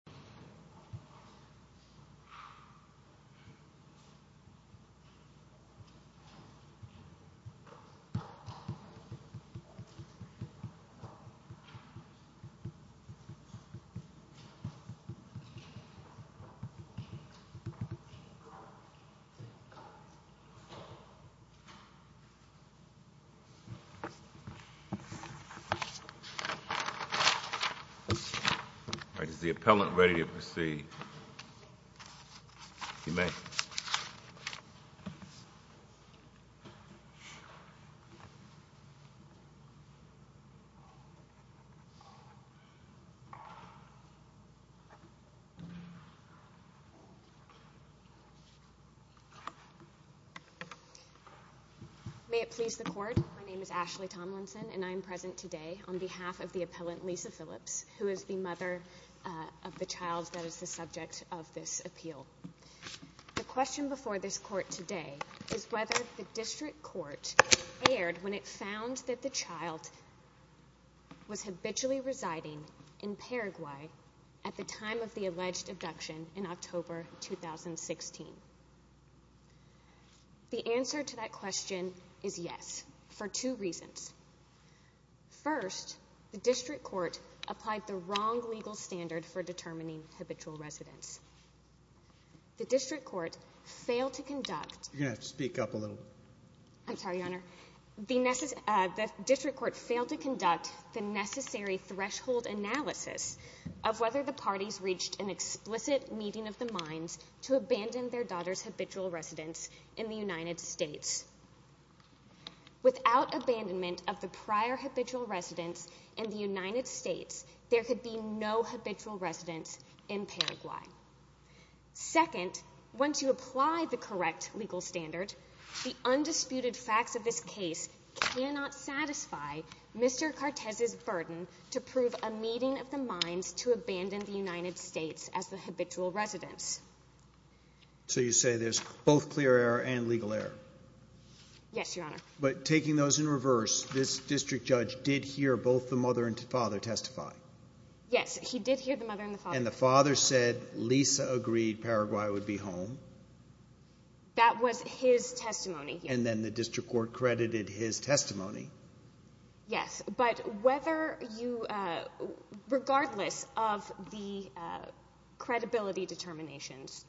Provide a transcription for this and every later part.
Appeal of the Court of Arbitration May it please the Court, my name is Ashley Tomlinson and I am present today on behalf of the appellant Lisa Phillips, who is the mother of the child that is the subject of this appeal. The question before this Court today is whether the District Court erred when it found that the child was habitually residing in Paraguay at the time of the alleged abduction in October 2016. The answer to that question is yes, for two reasons. First, the District Court applied the wrong legal standard for determining habitual residence. The District Court failed to conduct the necessary threshold analysis of whether the parties reached an explicit meeting of the minds to abandon their daughter's habitual residence in the United States, there could be no habitual residence in Paraguay. Second, once you apply the correct legal standard, the undisputed facts of this case cannot satisfy Mr. Cartes' burden to prove a meeting of the minds to abandon the United States as the habitual residence. So you say there's both clear error and legal error? Yes, Your Honor. But taking those in account, did the undisputed father testify? Yes, he did hear the mother and the father. And the father said Lisa agreed Paraguay would be home? That was his testimony. And then the District Court credited his testimony? Yes, but whether you, regardless of the credibility determinations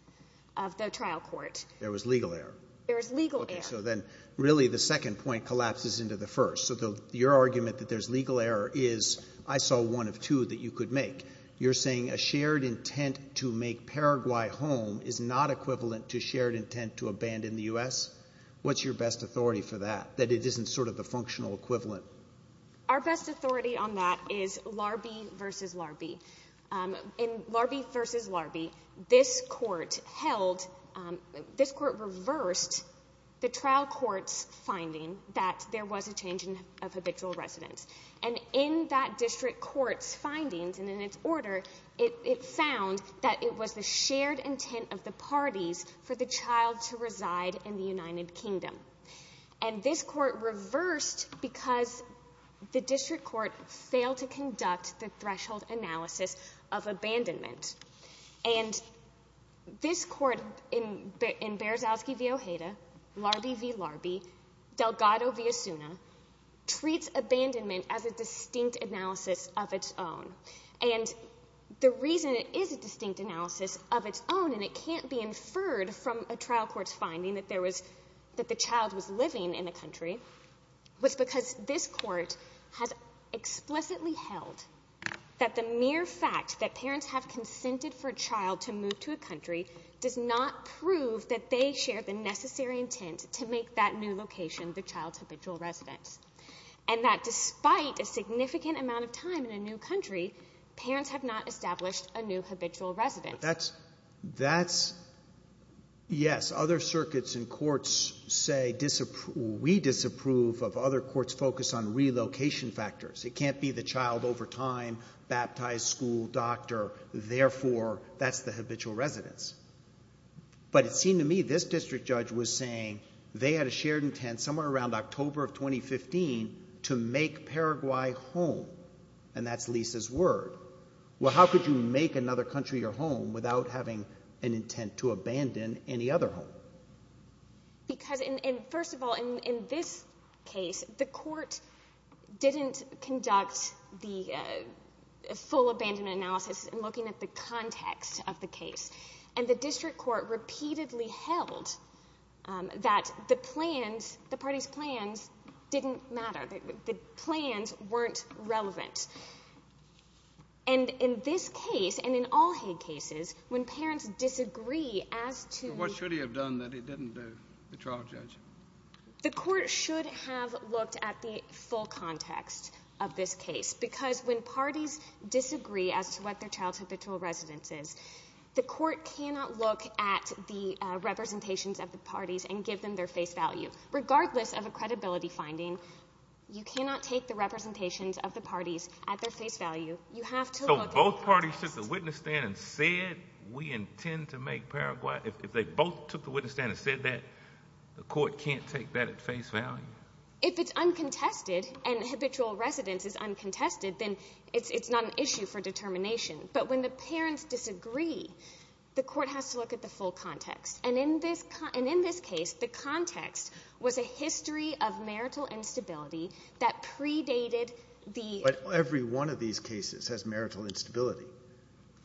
of the trial court. There was legal error? There was legal error. So then really the second point collapses into the first. So your argument that there's legal error is, I saw one of two that you could make. You're saying a shared intent to make Paraguay home is not equivalent to shared intent to abandon the U.S.? What's your best authority for that? That it isn't sort of the functional equivalent? Our best authority on that is Larbee v. Larbee. In Larbee v. Larbee, this court held, this court reversed the trial court's finding that there was a change of habitual residence. And in that district court's findings and in its order, it found that it was the shared intent of the parties for the child to reside in the United Kingdom. And this court reversed because the district court failed to conduct the threshold analysis of abandonment. And this court in Berzowski v. Ojeda, Larbee v. Larbee, Delgado v. Asuna, treats abandonment as a distinct analysis of its own. And the reason it is a distinct analysis of its own and it can't be inferred from a trial court's finding that there was, that the child was living in the country, was because this court has explicitly held that the mere fact that a parent consented for a child to move to a country does not prove that they shared the necessary intent to make that new location the child's habitual residence. And that despite a significant amount of time in a new country, parents have not established a new habitual residence. But that's, that's, yes, other circuits and courts say, we disapprove of other courts' focus on relocation factors. It can't be the child over time baptized a school doctor, therefore, that's the habitual residence. But it seemed to me this district judge was saying they had a shared intent somewhere around October of 2015 to make Paraguay home. And that's Lisa's word. Well, how could you make another country your home without having an intent to abandon any other home? Because, and first of all, in this case, the court didn't conduct the full abandonment analysis in looking at the context of the case. And the district court repeatedly held that the plans, the party's plans, didn't matter. The plans weren't relevant. And in this case, and in all Hague cases, when parents disagree as to... So what should he have done that he didn't do, the trial judge? The court should have looked at the full context of this case. Because when parties disagree as to what their child's habitual residence is, the court cannot look at the representations of the parties and give them their face value. Regardless of a credibility finding, you cannot take the representations of the parties at their face value. You have to look at... If both parties took the witness stand and said, we intend to make Paraguay... If they both took the witness stand and said that, the court can't take that at face value? If it's uncontested and habitual residence is uncontested, then it's not an issue for determination. But when the parents disagree, the court has to look at the full context. And in this case, the context was a history of marital instability that predated the... But every one of these cases has marital instability.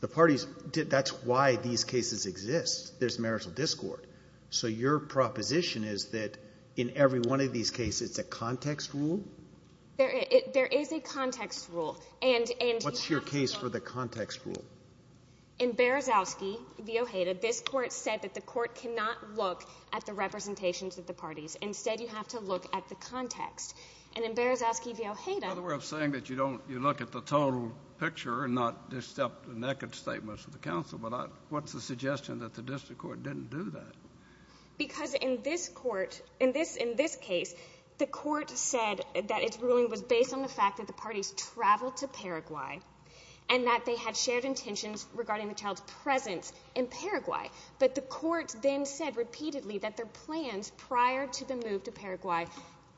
The parties... That's why these cases exist. There's marital discord. So your proposition is that in every one of these cases, it's a context rule? There is a context rule. And... What's your case for the context rule? In Berezowski v. Ojeda, this court said that the court cannot look at the representations of the parties. Instead, you have to look at the context. And in Berezowski v. Ojeda... That's another way of saying that you don't... You look at the total picture and not just the naked statements of the counsel. But what's the suggestion that the district court didn't do that? Because in this court... In this case, the court said that its ruling was based on the fact that the parties traveled to Paraguay and that they had shared intentions regarding the child's presence in Paraguay. But the court then said repeatedly that their plans prior to the move to Paraguay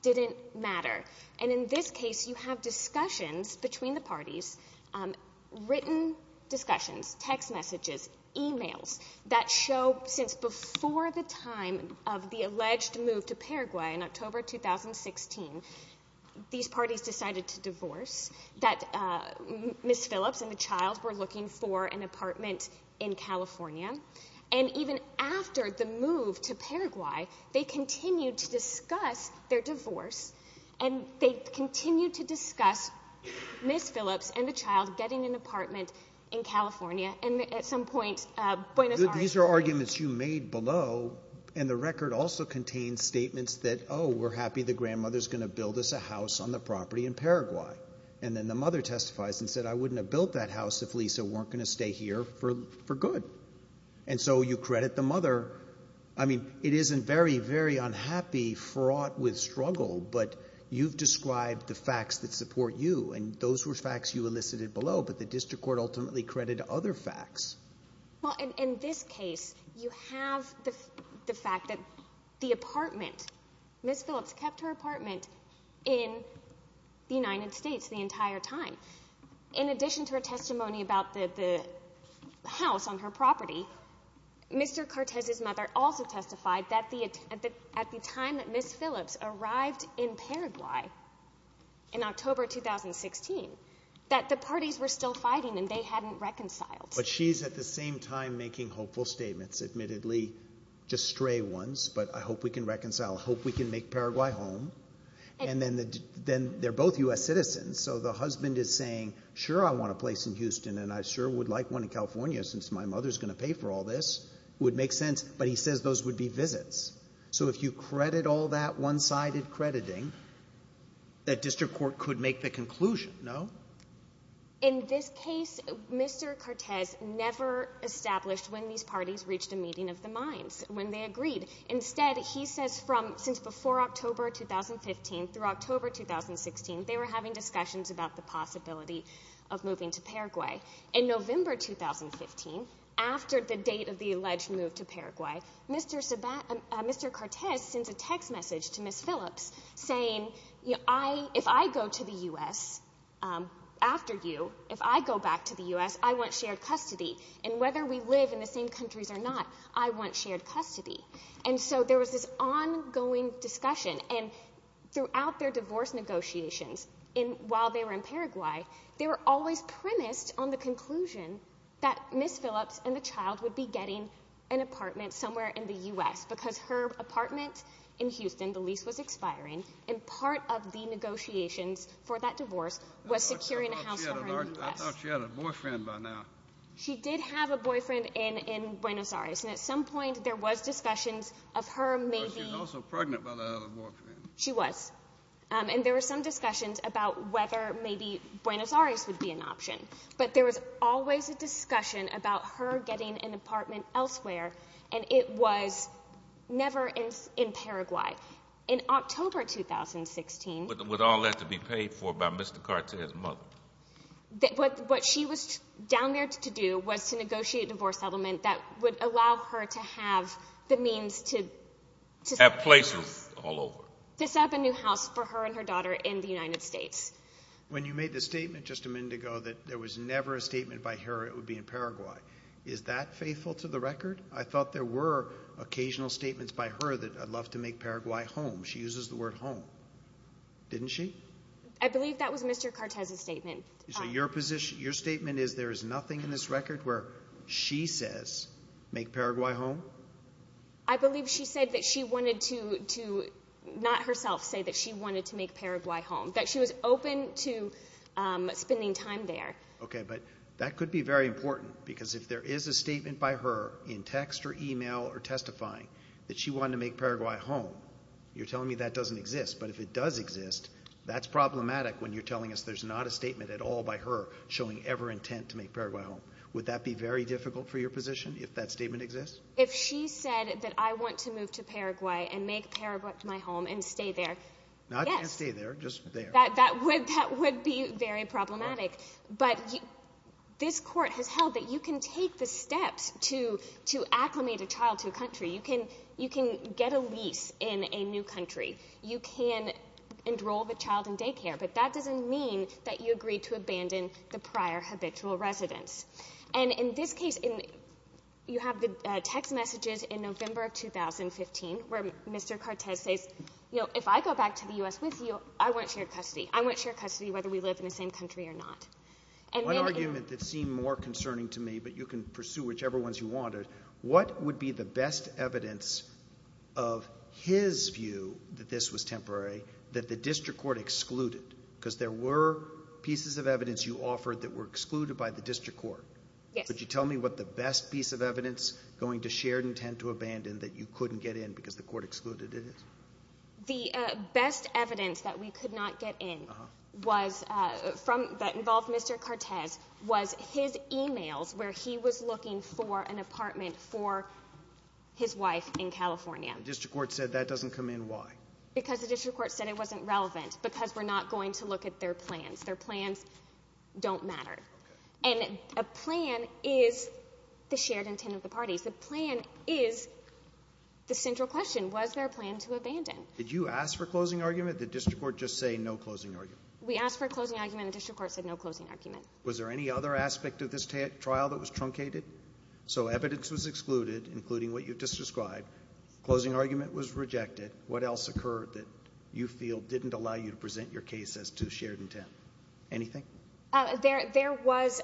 didn't matter. And in this case, you have discussions between the parties, written discussions, text messages, e-mails, that show since before the time of the alleged move to Paraguay in October 2016, these parties decided to divorce, that Ms. Phillips and the child were looking for an apartment in California. And even after the move to Paraguay, they continued to discuss their divorce, and they continued to discuss Ms. Phillips and the child getting an apartment in California. And at some point, Buenos Aires... These are arguments you made below, and the record also contains statements that, oh, we're happy the grandmother's going to build us a house on the property in Paraguay. And then the mother testifies and said, I wouldn't have built that house if Lisa weren't going to stay here for good. And so you credit the mother. I mean, it isn't very, very unhappy, fraught with struggle, but you've described the facts that support you, and those were facts you elicited below, but the district court ultimately credited other facts. Well, in this case, you have the fact that the apartment, Ms. Phillips kept her apartment in the United States the entire time. In addition to her testimony about the house on her property, Mr. Cortez's mother also testified that at the time that Ms. Phillips arrived in Paraguay in October 2016, that the parties were still fighting and they hadn't reconciled. But she's at the same time making hopeful statements, admittedly just stray ones, but I hope we can reconcile, hope we can make Paraguay home. And then they're both US citizens, so the husband is saying, sure, I want a place in Houston, and I sure would like one in California since my mother's going to pay for all this. Would make sense, but he says those would be visits. So if you credit all that one-sided crediting, that district court could make the conclusion, no? In this case, Mr. Cortez never established when these parties reached a meeting of the head. He says from, since before October 2015 through October 2016, they were having discussions about the possibility of moving to Paraguay. In November 2015, after the date of the alleged move to Paraguay, Mr. Cortez sends a text message to Ms. Phillips saying, if I go to the US after you, if I go back to the US, I want shared custody. And whether we live in the same countries or not, I want shared custody. And so there was this ongoing discussion, and throughout their divorce negotiations, while they were in Paraguay, they were always premised on the conclusion that Ms. Phillips and the child would be getting an apartment somewhere in the US, because her apartment in Houston, the lease was expiring, and part of the negotiations for that divorce was securing a house for her in the US. I thought she had a boyfriend by now. She did have a boyfriend in Buenos Aires, and at some point, there was discussions of her maybe... But she was also pregnant by the other boyfriend. She was. And there were some discussions about whether maybe Buenos Aires would be an option. But there was always a discussion about her getting an apartment elsewhere, and it was never in Paraguay. In October 2016... What she was down there to do was to negotiate a divorce settlement that would allow her to have the means to... Have places all over. To set up a new house for her and her daughter in the United States. When you made the statement just a minute ago that there was never a statement by her it would be in Paraguay, is that faithful to the record? I thought there were occasional statements by her that I'd love to make Paraguay home. She uses the word home. Didn't she? I believe that was Mr. Cortez's statement. Your position, your statement is there is nothing in this record where she says, make Paraguay home? I believe she said that she wanted to... Not herself say that she wanted to make Paraguay home. That she was open to spending time there. Okay, but that could be very important because if there is a statement by her in text or email or testifying that she wanted to make Paraguay home, you're telling me that doesn't exist, that's problematic when you're telling us there's not a statement at all by her showing ever intent to make Paraguay home. Would that be very difficult for your position if that statement exists? If she said that I want to move to Paraguay and make Paraguay my home and stay there, yes. Not stay there, just there. That would be very problematic. But this court has held that you can take the steps to acclimate a child to a country. You can get a lease in a new country. You can enroll the child in daycare. But that doesn't mean that you agree to abandon the prior habitual residence. And in this case, you have the text messages in November of 2015 where Mr. Cortez says, if I go back to the U.S. with you, I won't share custody. I won't share custody whether we live in the same country or not. One argument that seemed more concerning to me, but you can pursue whichever ones you wanted, what would be the best evidence of his view that this was temporary that the district court excluded? Because there were pieces of evidence you offered that were excluded by the district court. Yes. Could you tell me what the best piece of evidence going to shared intent to abandon that you couldn't get in because the court excluded it? The best evidence that we could not get in was from that involved Mr. Cortez was his emails where he was looking for an apartment for his wife in California. District court said that doesn't come in. Why? Because the district court said it wasn't relevant because we're not going to look at their plans. Their plans don't matter. And a plan is the shared intent of the parties. The plan is the central question. Was there a plan to abandon? Did you ask for a closing argument? The district court just say no closing argument. We asked for a closing argument. The district court said no closing argument. Was there any other aspect of this trial that was truncated? So evidence was excluded including what you've just described. Closing argument was rejected. What else occurred that you feel didn't allow you to present your case as to shared intent? Anything? There was,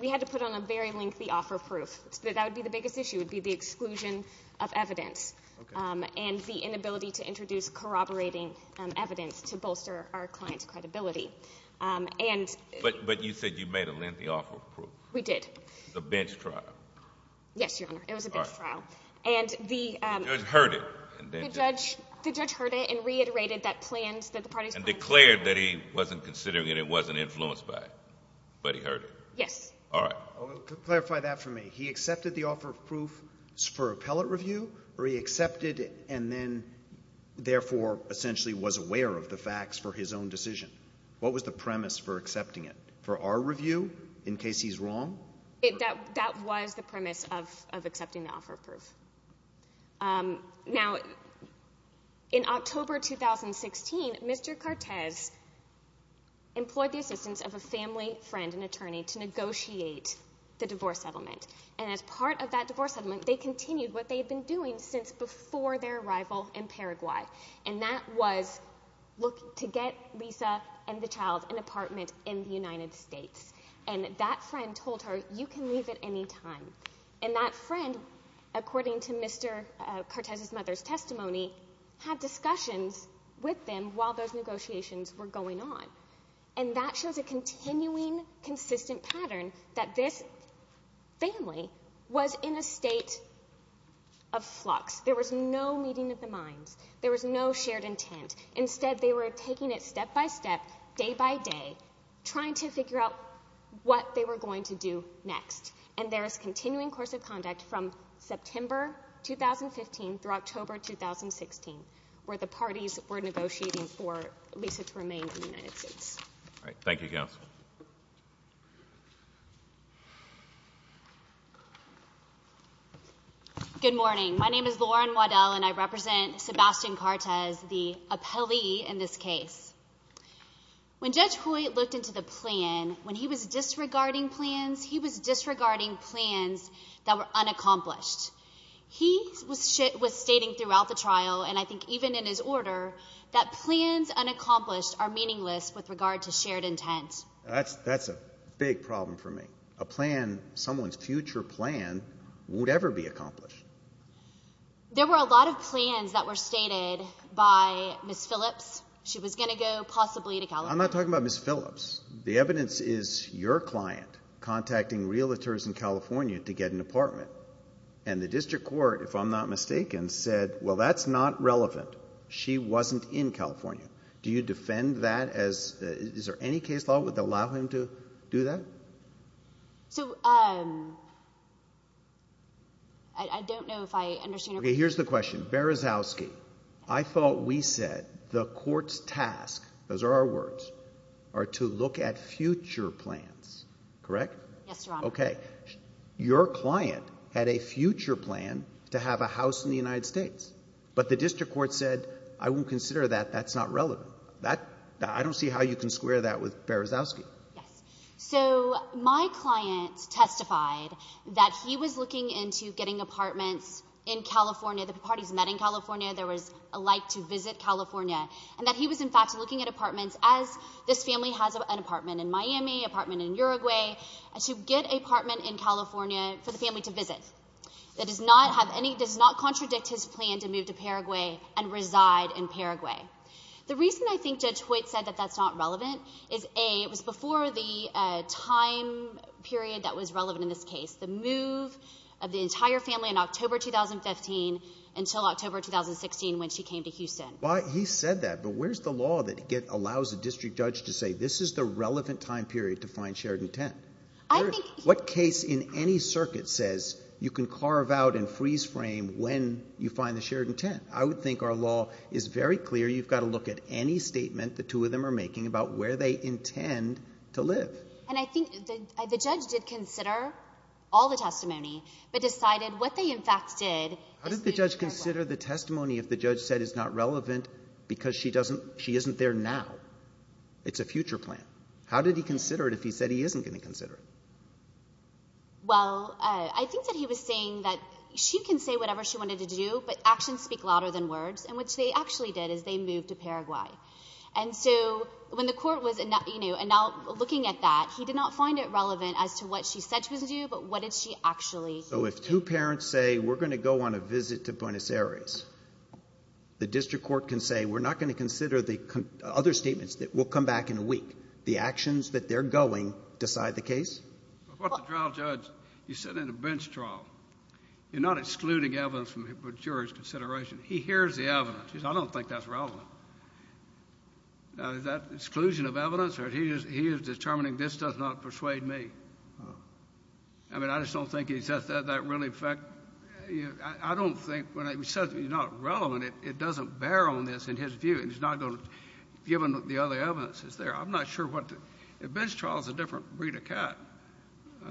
we had to put on a very lengthy offer proof. That would be the biggest issue would be the exclusion of evidence and the inability to introduce corroborating evidence to bolster our client's credibility. But you said you made a lengthy offer of proof? We did. The bench trial? Yes, Your Honor. It was a bench trial. And the judge heard it? The judge heard it and reiterated that plans, that the parties' plans. And declared that he wasn't considering it, it wasn't influenced by it. But he heard it? Yes. All right. Clarify that for me. He accepted the offer of proof for appellate review or he accepted and then therefore essentially was aware of the facts for his own decision. What was the premise for accepting it? For our review, in case he's wrong? That was the premise of accepting the offer of proof. Now, in October 2016, Mr. Cortez employed the assistance of a family friend, an attorney, to negotiate the divorce settlement. And as part of that divorce settlement, they continued what they had been doing since before their arrival in Paraguay. And that was to get Lisa and the child an apartment in the United States. And that friend told her, you can leave at any time. And that friend, according to Mr. Cortez's mother's testimony, had discussions with them while those negotiations were going on. And that shows a continuing consistent pattern that this family was in a state of flux. There was no meeting of the minds. There was no shared intent. Instead, they were taking it step by step, day by day, trying to figure out what they were going to do next. And there is continuing course of conduct from September 2015 through October 2016, where the parties were negotiating for Lisa to remain in the United States. All right. Thank you, counsel. Good morning. My name is Lauren Waddell, and I represent Sebastian Cortez, the appellee in this case. When Judge Hoyt looked into the plan, when he was disregarding plans, he was disregarding plans that were unaccomplished. He was stating throughout the trial, and I remember, that plans unaccomplished are meaningless with regard to shared intent. That's a big problem for me. A plan, someone's future plan, would ever be accomplished. There were a lot of plans that were stated by Ms. Phillips. She was going to go possibly to California. I'm not talking about Ms. Phillips. The evidence is your client contacting realtors in California to get an apartment. And the district court, if I'm not mistaken, said, well, that's not true. He wasn't in California. Do you defend that as, is there any case law that would allow him to do that? So, I don't know if I understand your question. Okay. Here's the question. Berezowski, I thought we said the court's task, those are our words, are to look at future plans. Correct? Yes, Your Honor. Okay. Your client had a future plan to have a house in the United States, but the district court said, I won't consider that. That's not relevant. That, I don't see how you can square that with Berezowski. Yes. So, my client testified that he was looking into getting apartments in California. The parties met in California. There was a like to visit California. And that he was, in fact, looking at apartments, as this family has an apartment in Miami, apartment in Uruguay, to get an apartment in California for the family to visit. That does not have any, does not contradict his plan to move to Paraguay and reside in Paraguay. The reason I think Judge Hoyt said that that's not relevant is, A, it was before the time period that was relevant in this case. The move of the entire family in October 2015 until October 2016 when she came to Houston. Why, he said that, but where's the law that allows a district judge to say, this is the relevant time period to find shared intent? I think... What case in any circuit says you can carve out and freeze frame when you find the shared intent? I would think our law is very clear. You've got to look at any statement the two of them are making about where they intend to live. And I think the judge did consider all the testimony, but decided what they, in fact, did is move to Paraguay. How did the judge consider the testimony if the judge said it's not relevant because she doesn't, she isn't there now? It's a future plan. How did he consider it if he said he didn't consider it? Well, I think that he was saying that she can say whatever she wanted to do, but actions speak louder than words. And what they actually did is they moved to Paraguay. And so when the court was, you know, now looking at that, he did not find it relevant as to what she said she was going to do, but what did she actually... So if two parents say, we're going to go on a visit to Buenos Aires, the district court can say, we're not going to consider the other statements. We'll come back in a week. The case... But what the trial judge, he's sitting in a bench trial. You're not excluding evidence from a jury's consideration. He hears the evidence. He says, I don't think that's relevant. Now, is that exclusion of evidence, or he is determining this does not persuade me? I mean, I just don't think he says that really, in fact, I don't think, when he says it's not relevant, it doesn't bear on this in his view, and he's not going to, given the other evidence that's there. I'm not sure what the...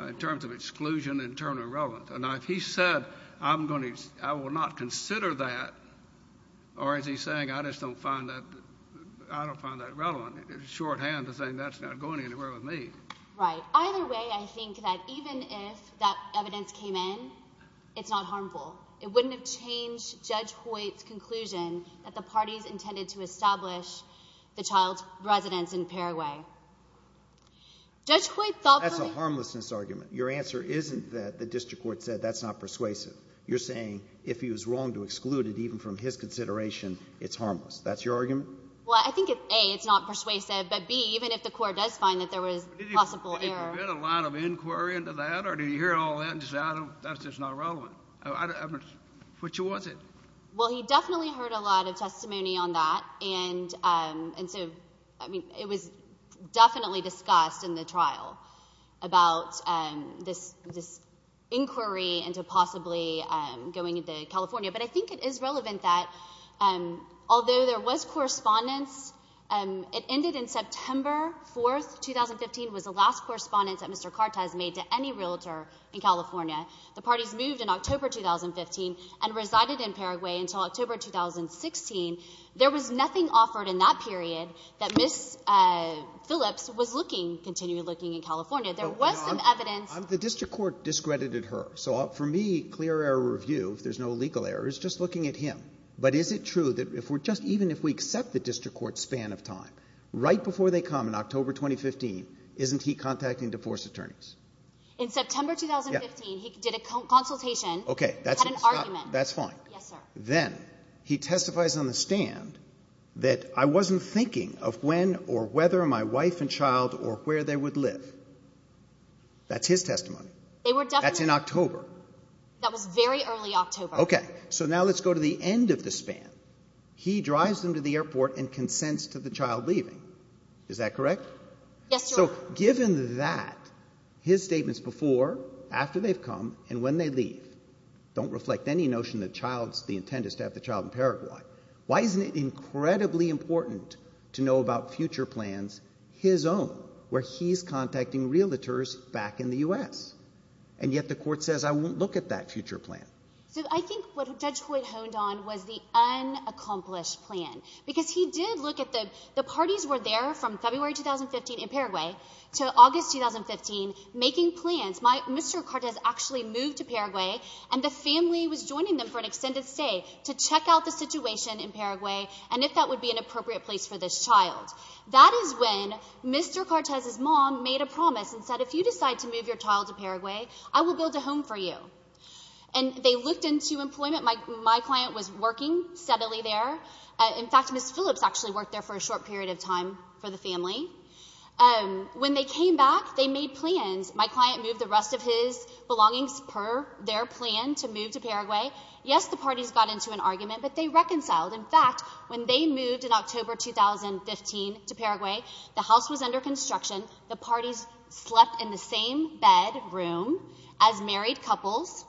In terms of exclusion, in terms of relevance. Now, if he said, I'm going to, I will not consider that, or is he saying, I just don't find that, I don't find that relevant, it's shorthand to say that's not going anywhere with me. Right. Either way, I think that even if that evidence came in, it's not harmful. It wouldn't have changed Judge Hoyt's conclusion that the parties intended to establish the child's residence in Paraguay. Judge Hoyt thought... That's a harmlessness argument. Your answer isn't that the district court said that's not persuasive. You're saying, if he was wrong to exclude it, even from his consideration, it's harmless. That's your argument? Well, I think, A, it's not persuasive, but B, even if the court does find that there was possible error... Did he provide a line of inquiry into that, or did he hear all that and just say, I don't, that's just not relevant? Which was it? Well, he definitely heard a lot of testimony on that, and so, I mean, it was definitely discussed in the trial about this inquiry into possibly going into California. But I think it is relevant that, although there was correspondence, it ended in September 4th, 2015, was the last correspondence that Mr. Cartes made to any realtor in California. The parties moved in October 2015 and resided in Paraguay until October 2016. There was nothing offered in that period that Ms. Phillips was looking, continued looking in California. There was some evidence... The district court discredited her. So for me, clear error review, if there's no legal error, is just looking at him. But is it true that if we're just, even if we accept the district court's span of time, right before they come in October 2015, isn't he contacting divorce attorneys? In September 2015, he did a consultation... Okay, that's... Had an argument. That's fine. Yes, sir. Then, he testifies on the stand that, I wasn't thinking of when or whether my wife and child or where they would live. That's his testimony. They were definitely... That's in October. That was very early October. Okay. So now let's go to the end of the span. He drives them to the airport and consents to the child leaving. Is that correct? Yes, sir. So given that, his statements before, after they've come, and when they leave, don't reflect any notion that the intent is to have the child in Paraguay. Why isn't it incredibly important to know about future plans, his own, where he's contacting realtors back in the U.S.? And yet the court says, I won't look at that future plan. So I think what Judge Hoyt honed on was the unaccomplished plan. Because he did look at the parties were there from February 2015 in Paraguay to August 2015, making plans. Mr. Cortez actually moved to Paraguay and the family was joining them for an extended stay to check out the situation in Paraguay and if that would be an appropriate place for this child. That is when Mr. Cortez's mom made a promise and said, if you decide to move your child to Paraguay, I will build a home for you. And they looked into employment. My client was working steadily there. In fact, Ms. Phillips actually worked there for a short period of time for the family. When they came back, they made plans. My client moved the rest of his belongings per their plan to move to Paraguay. Yes, the parties got into an argument, but they reconciled. In fact, when they moved in October 2015 to Paraguay, the house was under construction. The parties slept in the same bedroom as married couples.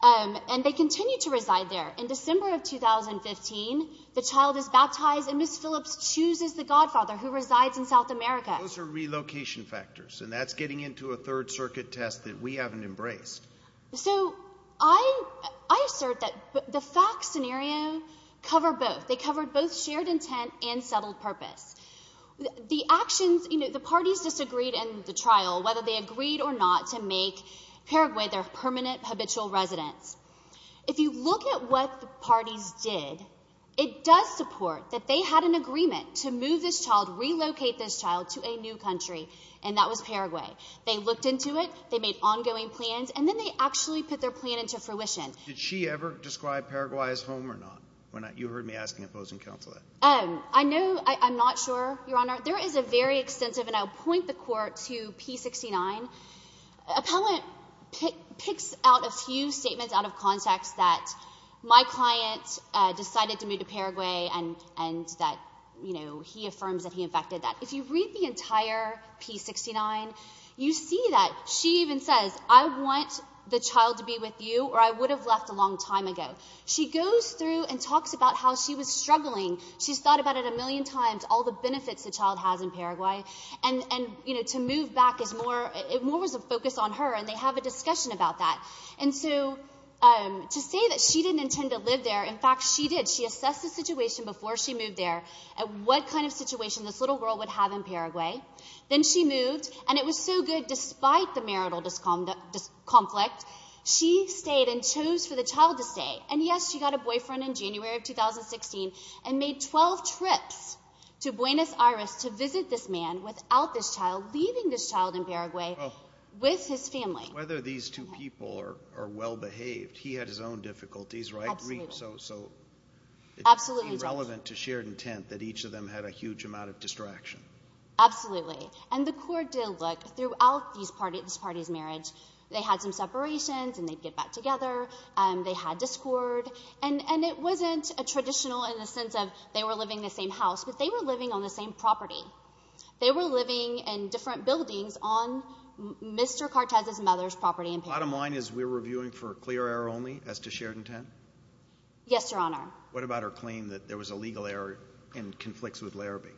And they continued to reside there. In December of 2015, the child is baptized and Ms. Phillips chooses the godfather who resides in South America. Those are relocation factors. And that's getting into a third circuit test that we haven't embraced. So I assert that the facts scenario cover both. They covered both shared intent and settled purpose. The actions, you know, the parties disagreed in the trial, whether they agreed or not to make Paraguay their permanent habitual residence. If you look at what the parties did, it does support that they had an agreement to move this child, relocate this child to a new country. And that was Paraguay. They looked into it. They made ongoing plans. And then they actually put their plan into fruition. Did she ever describe Paraguay as home or not? When you heard me asking opposing counsel that. I know, I'm not sure, Your Honor. There is a very extensive, and I'll point the court to P69. Appellant picks out a few statements out of context that my client decided to move to Paraguay and that, you know, he affirms that he affected that. If you read the entire P69, you see that she even says, I want the child to be with you or I would have left a long time ago. She goes through and talks about how she was struggling. She's thought about it a million times, all the benefits the child has in Paraguay. And, you know, to move back is more, more was a focus on her and they have a discussion about that. And so to say that she didn't intend to live there. In fact, she did. She assessed the situation before she moved there and what kind of situation this little girl would have in Paraguay. Then she moved and it was so good. Despite the marital conflict, she stayed and chose for the child to stay. And yes, she got a boyfriend in January of 2016 and made 12 trips to Buenos Aires to visit this man without this child, leaving this child in Paraguay with his family. Whether these two people are well behaved, he had his own difficulties, right? So absolutely relevant to shared intent that each of them had a huge amount of distraction. Absolutely. And the court did look throughout this party's marriage. They had some separations and they'd get back together. And they had discord. And it wasn't a traditional in the sense of they were living in the same house, but they were living on the same property. They were living in different buildings on Mr. Cortez's mother's property in Paraguay. Bottom line is we're reviewing for clear air only as to shared intent. Yes, Your Honor. What about her claim that there was a legal error and conflicts with Larrabee?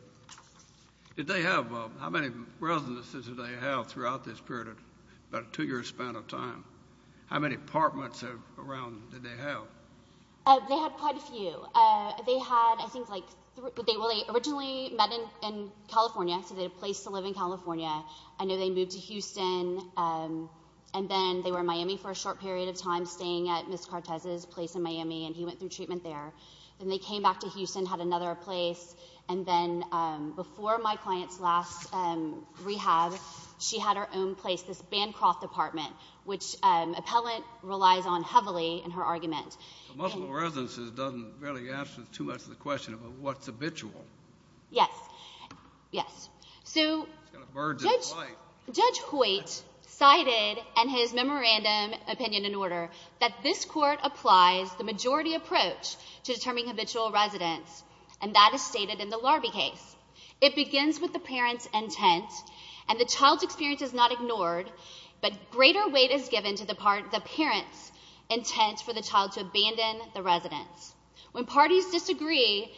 Did they have, how many residences did they have throughout this period, about a two year span of time? How many apartments around did they have? They had quite a few. They had, I think like, they originally met in California. So they had a place to live in California. I know they moved to Houston. And then they were in Miami for a short period of time, staying at Ms. Cortez's place in Miami. And he went through treatment there. Then they came back to Houston, had another place. And then before my client's last rehab, she had her own place, this Bancroft apartment, which appellant relies on heavily in her argument. Multiple residences doesn't really answer too much of the question about what's habitual. Yes. Yes. So Judge Hoyt cited in his memorandum opinion and order, this court applies the majority approach to determining habitual residence. And that is stated in the Larrabee case. It begins with the parent's intent. And the child's experience is not ignored. But greater weight is given to the parent's intent for the child to abandon the residence. When parties disagree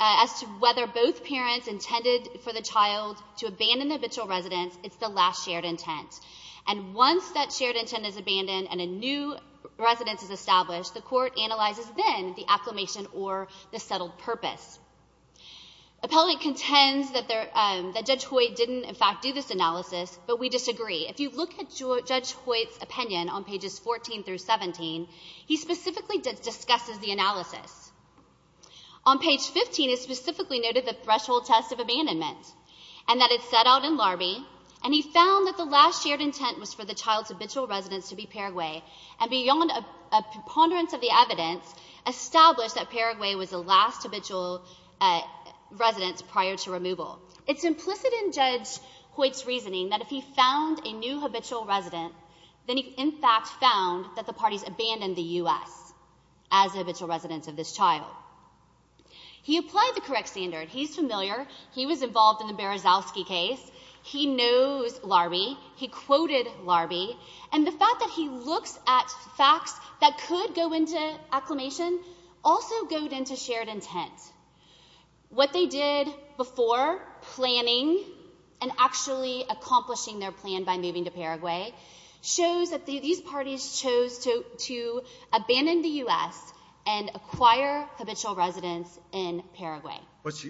as to whether both parents intended for the child to abandon the habitual residence, it's the last shared intent. And once that shared intent is abandoned and a new residence is established, the court analyzes then the acclamation or the settled purpose. Appellant contends that Judge Hoyt didn't, in fact, do this analysis. But we disagree. If you look at Judge Hoyt's opinion on pages 14 through 17, he specifically discusses the analysis. On page 15, it specifically noted the threshold test of abandonment and that it set out in Larrabee. And he found that the last shared intent was for the child's habitual residence to be Paraguay. And beyond a preponderance of the evidence, established that Paraguay was the last habitual residence prior to removal. It's implicit in Judge Hoyt's reasoning that if he found a new habitual residence, then he, in fact, found that the parties abandoned the U.S. as the habitual residence of this child. He applied the correct standard. He's familiar. He was involved in the Berezowski case. He knows Larrabee. He quoted Larrabee. And the fact that he looks at facts that could go into acclamation also go into shared intent. What they did before planning and actually accomplishing their plan by moving to Paraguay shows that these parties chose to abandon the U.S. and acquire habitual residence in Paraguay.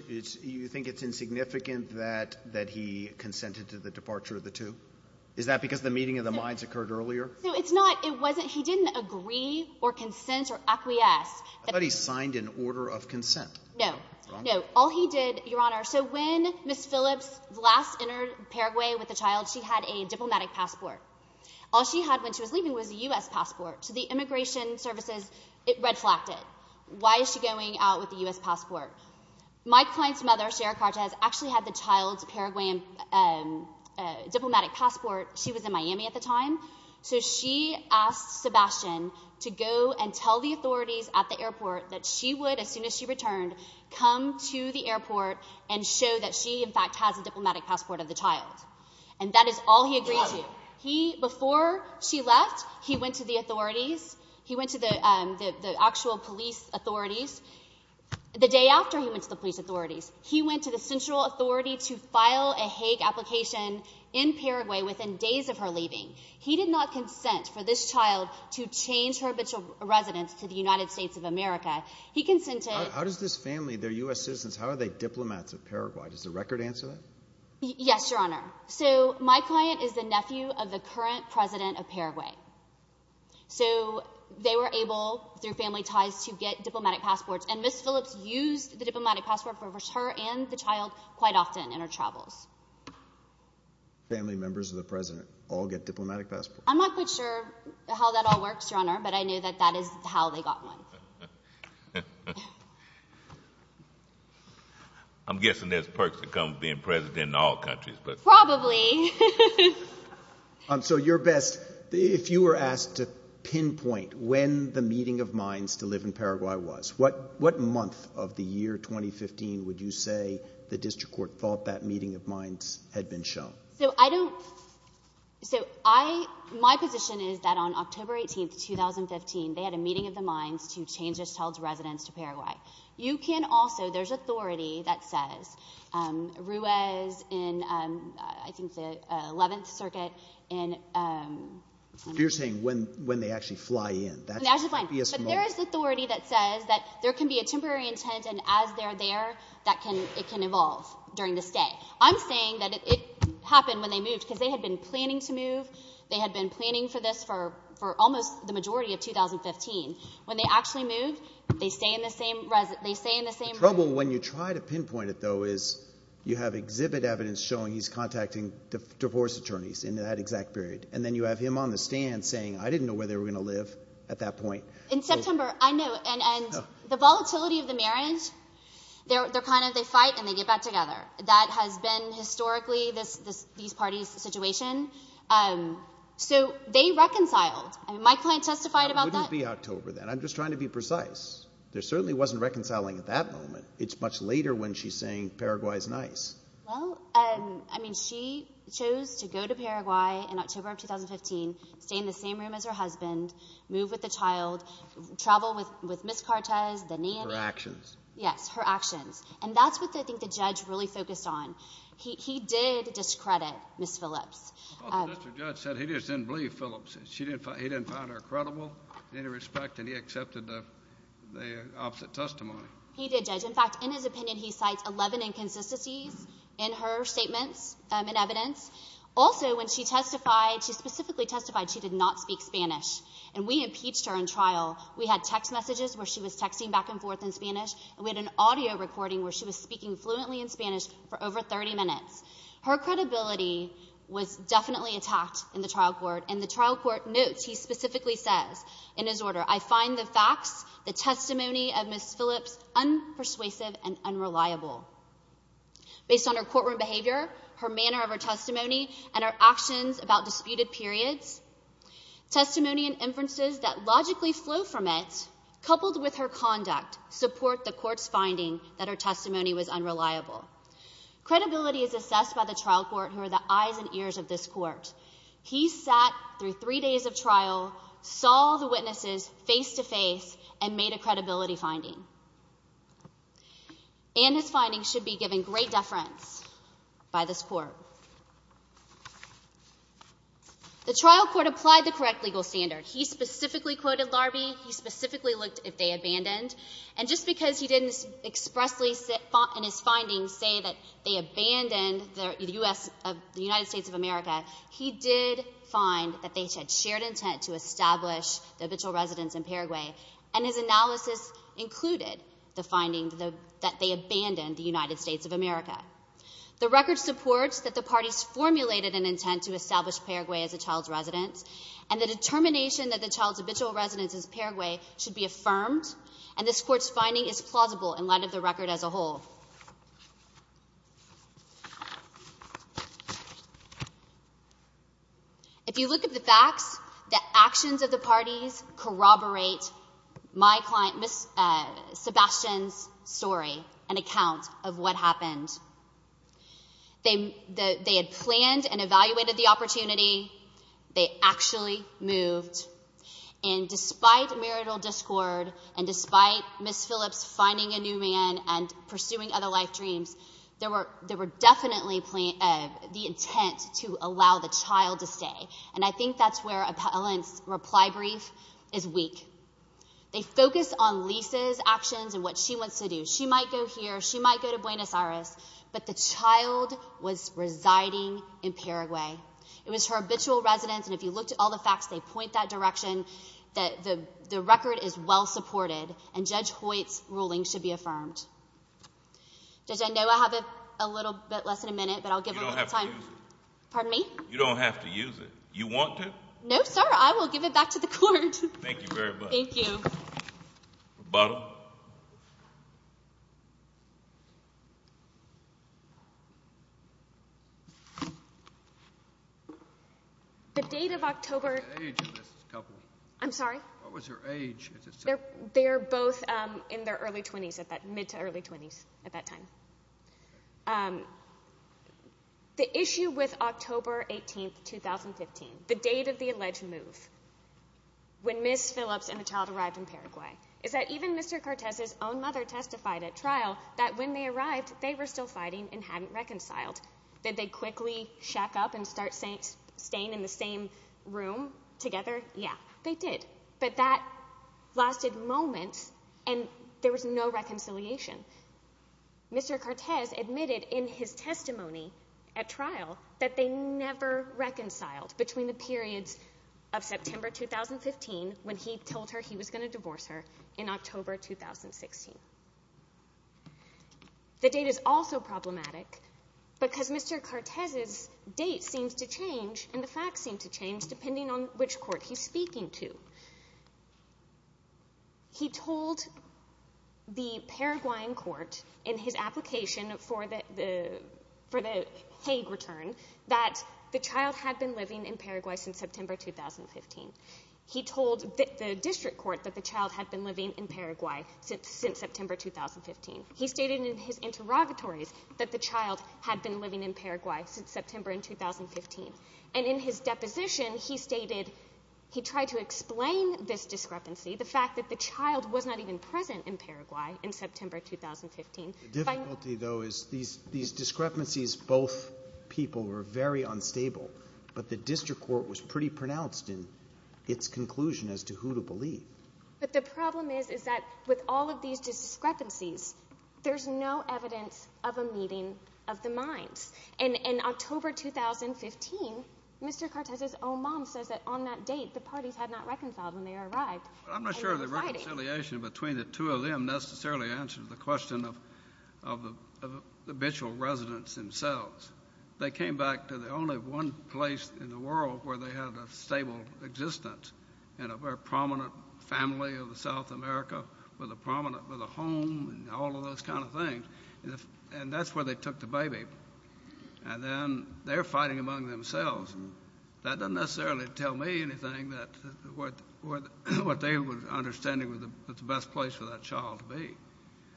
You think it's insignificant that he consented to the departure of the two? Is that because the meeting of the minds occurred earlier? No, it's not. It wasn't. He didn't agree or consent or acquiesce. I thought he signed an order of consent. No. No. All he did, Your Honor, so when Ms. Phillips last entered Paraguay with the child, she had a diplomatic passport. All she had when she was leaving was a U.S. passport. So the immigration services, it red-flagged it. Why is she going out with a U.S. passport? My client's mother, Sara Cortez, actually had the child's Paraguayan diplomatic passport. She was in Miami at the time. So she asked Sebastian to go and tell the authorities at the airport that she would, as soon as she returned, come to the airport and show that she, in fact, has a diplomatic passport of the child. And that is all he agreed to. Before she left, he went to the authorities. He went to the actual police authorities. The day after he went to the police authorities, he went to the central authority to file a Hague application in Paraguay within days of her leaving. He did not consent for this child to change her residence to the United States of America. He consented— How does this family, they're U.S. citizens, how are they diplomats of Paraguay? Does the record answer that? Yes, Your Honor. So my client is the nephew of the current president of Paraguay. So they were able, through family ties, to get diplomatic passports. And Ms. Phillips used the diplomatic passport for her and the child quite often in her travels. Family members of the president all get diplomatic passports? I'm not quite sure how that all works, Your Honor, but I knew that that is how they got one. I'm guessing there's perks that come with being president in all countries, but— Probably. So, Your Best, if you were asked to pinpoint when the meeting of minds to live in Paraguay was, what month of the year 2015 would you say the district court thought that meeting of minds had been shown? So I don't—so I—my position is that on October 18, 2015, they had a meeting of the minds to change this child's residence to Paraguay. You can also—there's authority that says Ruez in, I think, the 11th Circuit in— You're saying when they actually fly in. When they actually fly in. But there is authority that says that there can be a temporary intent, and as they're there, that can—it can evolve during the stay. I'm saying that it happened when they moved because they had been planning to move. They had been planning for this for almost the majority of 2015. When they actually moved, they stay in the same— They stay in the same— The trouble when you try to pinpoint it, though, is you have exhibit evidence showing he's contacting divorce attorneys in that exact period, and then you have him on the stand saying, I didn't know where they were going to live at that point. In September, I know, and the volatility of the marriage, they're kind of—they fight, and they get back together. That has been historically this—these parties' situation. So they reconciled. My client testified about that. I'm just trying to be precise. There certainly wasn't reconciling at that moment. It's much later when she's saying Paraguay's nice. Well, I mean, she chose to go to Paraguay in October of 2015, stay in the same room as her husband, move with the child, travel with Ms. Cartes, the name— Her actions. Yes, her actions. And that's what I think the judge really focused on. He did discredit Ms. Phillips. Well, the district judge said he just didn't believe Phillips. He didn't find her credible in any respect, and he accepted the opposite testimony. He did, Judge. In fact, in his opinion, he cites 11 inconsistencies in her statements and evidence. Also, when she testified, she specifically testified she did not speak Spanish, and we impeached her in trial. We had text messages where she was texting back and forth in Spanish, and we had an audio recording where she was speaking fluently in Spanish for over 30 minutes. Her credibility was definitely attacked in the trial court, and the trial court notes, he specifically says in his order, I find the facts, the testimony of Ms. Phillips unpersuasive and unreliable. Based on her courtroom behavior, her manner of her testimony, and her actions about disputed periods, testimony and inferences that logically flow from it, coupled with her conduct, support the court's finding that her testimony was unreliable. Credibility is assessed by the trial court, who are the eyes and ears of this court. He sat through three days of trial, saw the witnesses face-to-face, and made a credibility finding. And his findings should be given great deference by this court. The trial court applied the correct legal standard. He specifically quoted Larbee. He specifically looked if they abandoned. And just because he didn't expressly in his findings say that they abandoned the United States of America, he did find that they had shared intent to establish the habitual residence in Paraguay. And his analysis included the finding that they abandoned the United States of America. The record supports that the parties formulated an intent to establish Paraguay as a child's residence. And the determination that the child's habitual residence is Paraguay should be affirmed. And this court's finding is plausible in light of the record as a whole. If you look at the facts, the actions of the parties corroborate my client, Ms. Sebastian's, story and account of what happened. They had planned and evaluated the opportunity. They actually moved. And despite marital discord, and despite Ms. Phillips finding a new man and pursuing other life dreams, there were definitely the intent to allow the child to stay. And I think that's where Appellant's reply brief is weak. They focused on Lisa's actions and what she wants to do. She might go here. She might go to Buenos Aires. But the child was residing in Paraguay. It was her habitual residence. And if you looked at all the facts, they point that direction that the record is well supported. And Judge Hoyt's ruling should be affirmed. Judge, I know I have a little bit less than a minute, but I'll give them a little time. You don't have to use it. Pardon me? You don't have to use it. You want to? No, sir. I will give it back to the court. Thank you very much. Thank you. Bottom. The date of October. I'm sorry. What was her age? They're both in their early 20s, mid to early 20s at that time. The issue with October 18, 2015, the date of the alleged move, when Ms. Phillips and the child arrived in Paraguay, is that even Mr. Cortez's own mother testified at trial that when they arrived, they were still fighting and hadn't reconciled. Did they quickly shack up and start staying in the same room together? Yeah, they did. But that lasted moments and there was no reconciliation. Mr. Cortez admitted in his testimony at trial that they never reconciled between the periods of September 2015, when he told her he was going to divorce her, in October 2016. The date is also problematic because Mr. Cortez's date seems to change and the facts seem to change depending on which court he's speaking to. He told the Paraguayan court in his application for the Hague return that the child had been living in Paraguay since September 2015. He told the district court that the child had been living in Paraguay since September 2015. He stated in his interrogatories that the child had been living in Paraguay since September 2015. And in his deposition, he stated he tried to explain this discrepancy, the fact that the child was not even present in Paraguay in September 2015. The difficulty though is these discrepancies, both people were very unstable, but the district court was pretty pronounced in its conclusion as to who to believe. But the problem is that with all of these discrepancies, there's no evidence of a meeting of the minds. And in October 2015, Mr. Cortez's own mom says that on that date, the parties had not reconciled when they arrived. I'm not sure the reconciliation between the two of them necessarily answers the question of the habitual residents themselves. They came back to the only one place in the world where they had a stable existence and a very prominent family of South America, with a prominent home and all of those kind of things. And that's where they took the baby. And then they're fighting among themselves. That doesn't necessarily tell me anything that what they were understanding was the best place for that child to be.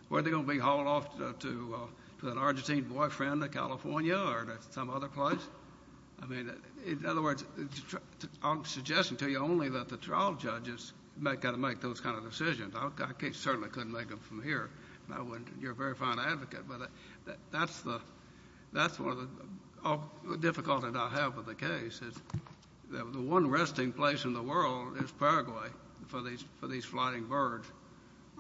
Were they going to be hauled off to an Argentine boyfriend in California or some other place? I mean, in other words, I'm suggesting to you only that the trial judges might got to make those kind of decisions. I certainly couldn't make them from here. You're a very fine advocate. But that's one of the difficulties I have with the case is the one resting place in the world is Paraguay for these flying birds.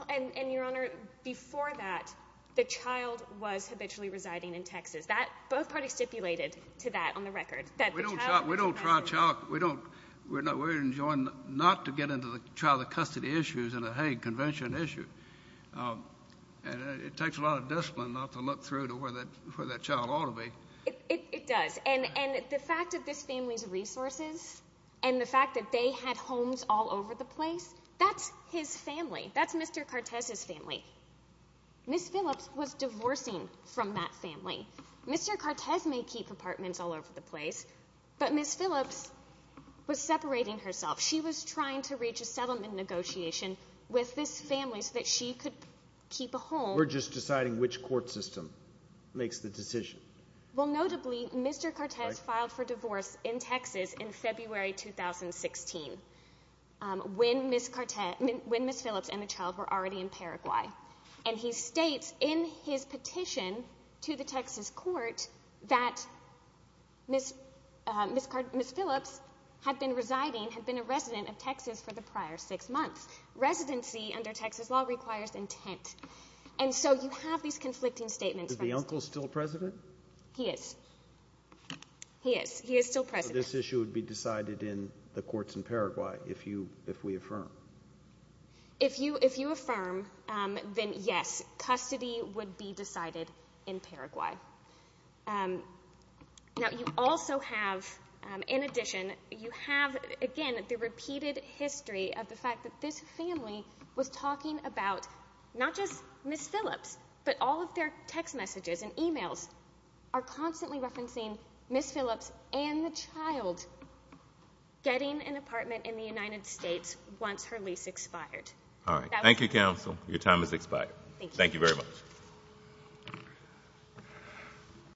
And your honor, before that, the child was habitually residing in Texas. That both parties stipulated to that on the record. That we don't try child. We don't. We're not. We're enjoying not to get into the child custody issues and a convention issue. And it takes a lot of discipline not to look through to where that child ought to be. It does. And the fact of this family's resources and the fact that they had homes all over the place. That's his family. That's Mr. Cortez's family. Ms. Phillips was divorcing from that family. Mr. Cortez may keep apartments all over the place, but Ms. Phillips was separating herself. She was trying to reach a settlement negotiation with this family so that she could keep a home. We're just deciding which court system makes the decision. Well, notably, Mr. Cortez filed for divorce in Texas in February 2016 when Ms. Phillips and the child were already in Paraguay. And he states in his petition to the Texas court that Ms. Phillips had been residing, had been a resident of Texas for the prior six months. Residency under Texas law requires intent. And so you have these conflicting statements. Is the uncle still president? He is. He is. He is still president. So this issue would be decided in the courts in Paraguay if we affirm? If you affirm, then yes, custody would be decided in Paraguay. Now, you also have, in addition, you have, again, the repeated history of the fact that this family was talking about not just Ms. Phillips, but all of their text messages and emails are constantly referencing Ms. Phillips and the child getting an apartment in the United States once her lease expired. All right. Thank you, counsel. Your time has expired. Thank you very much.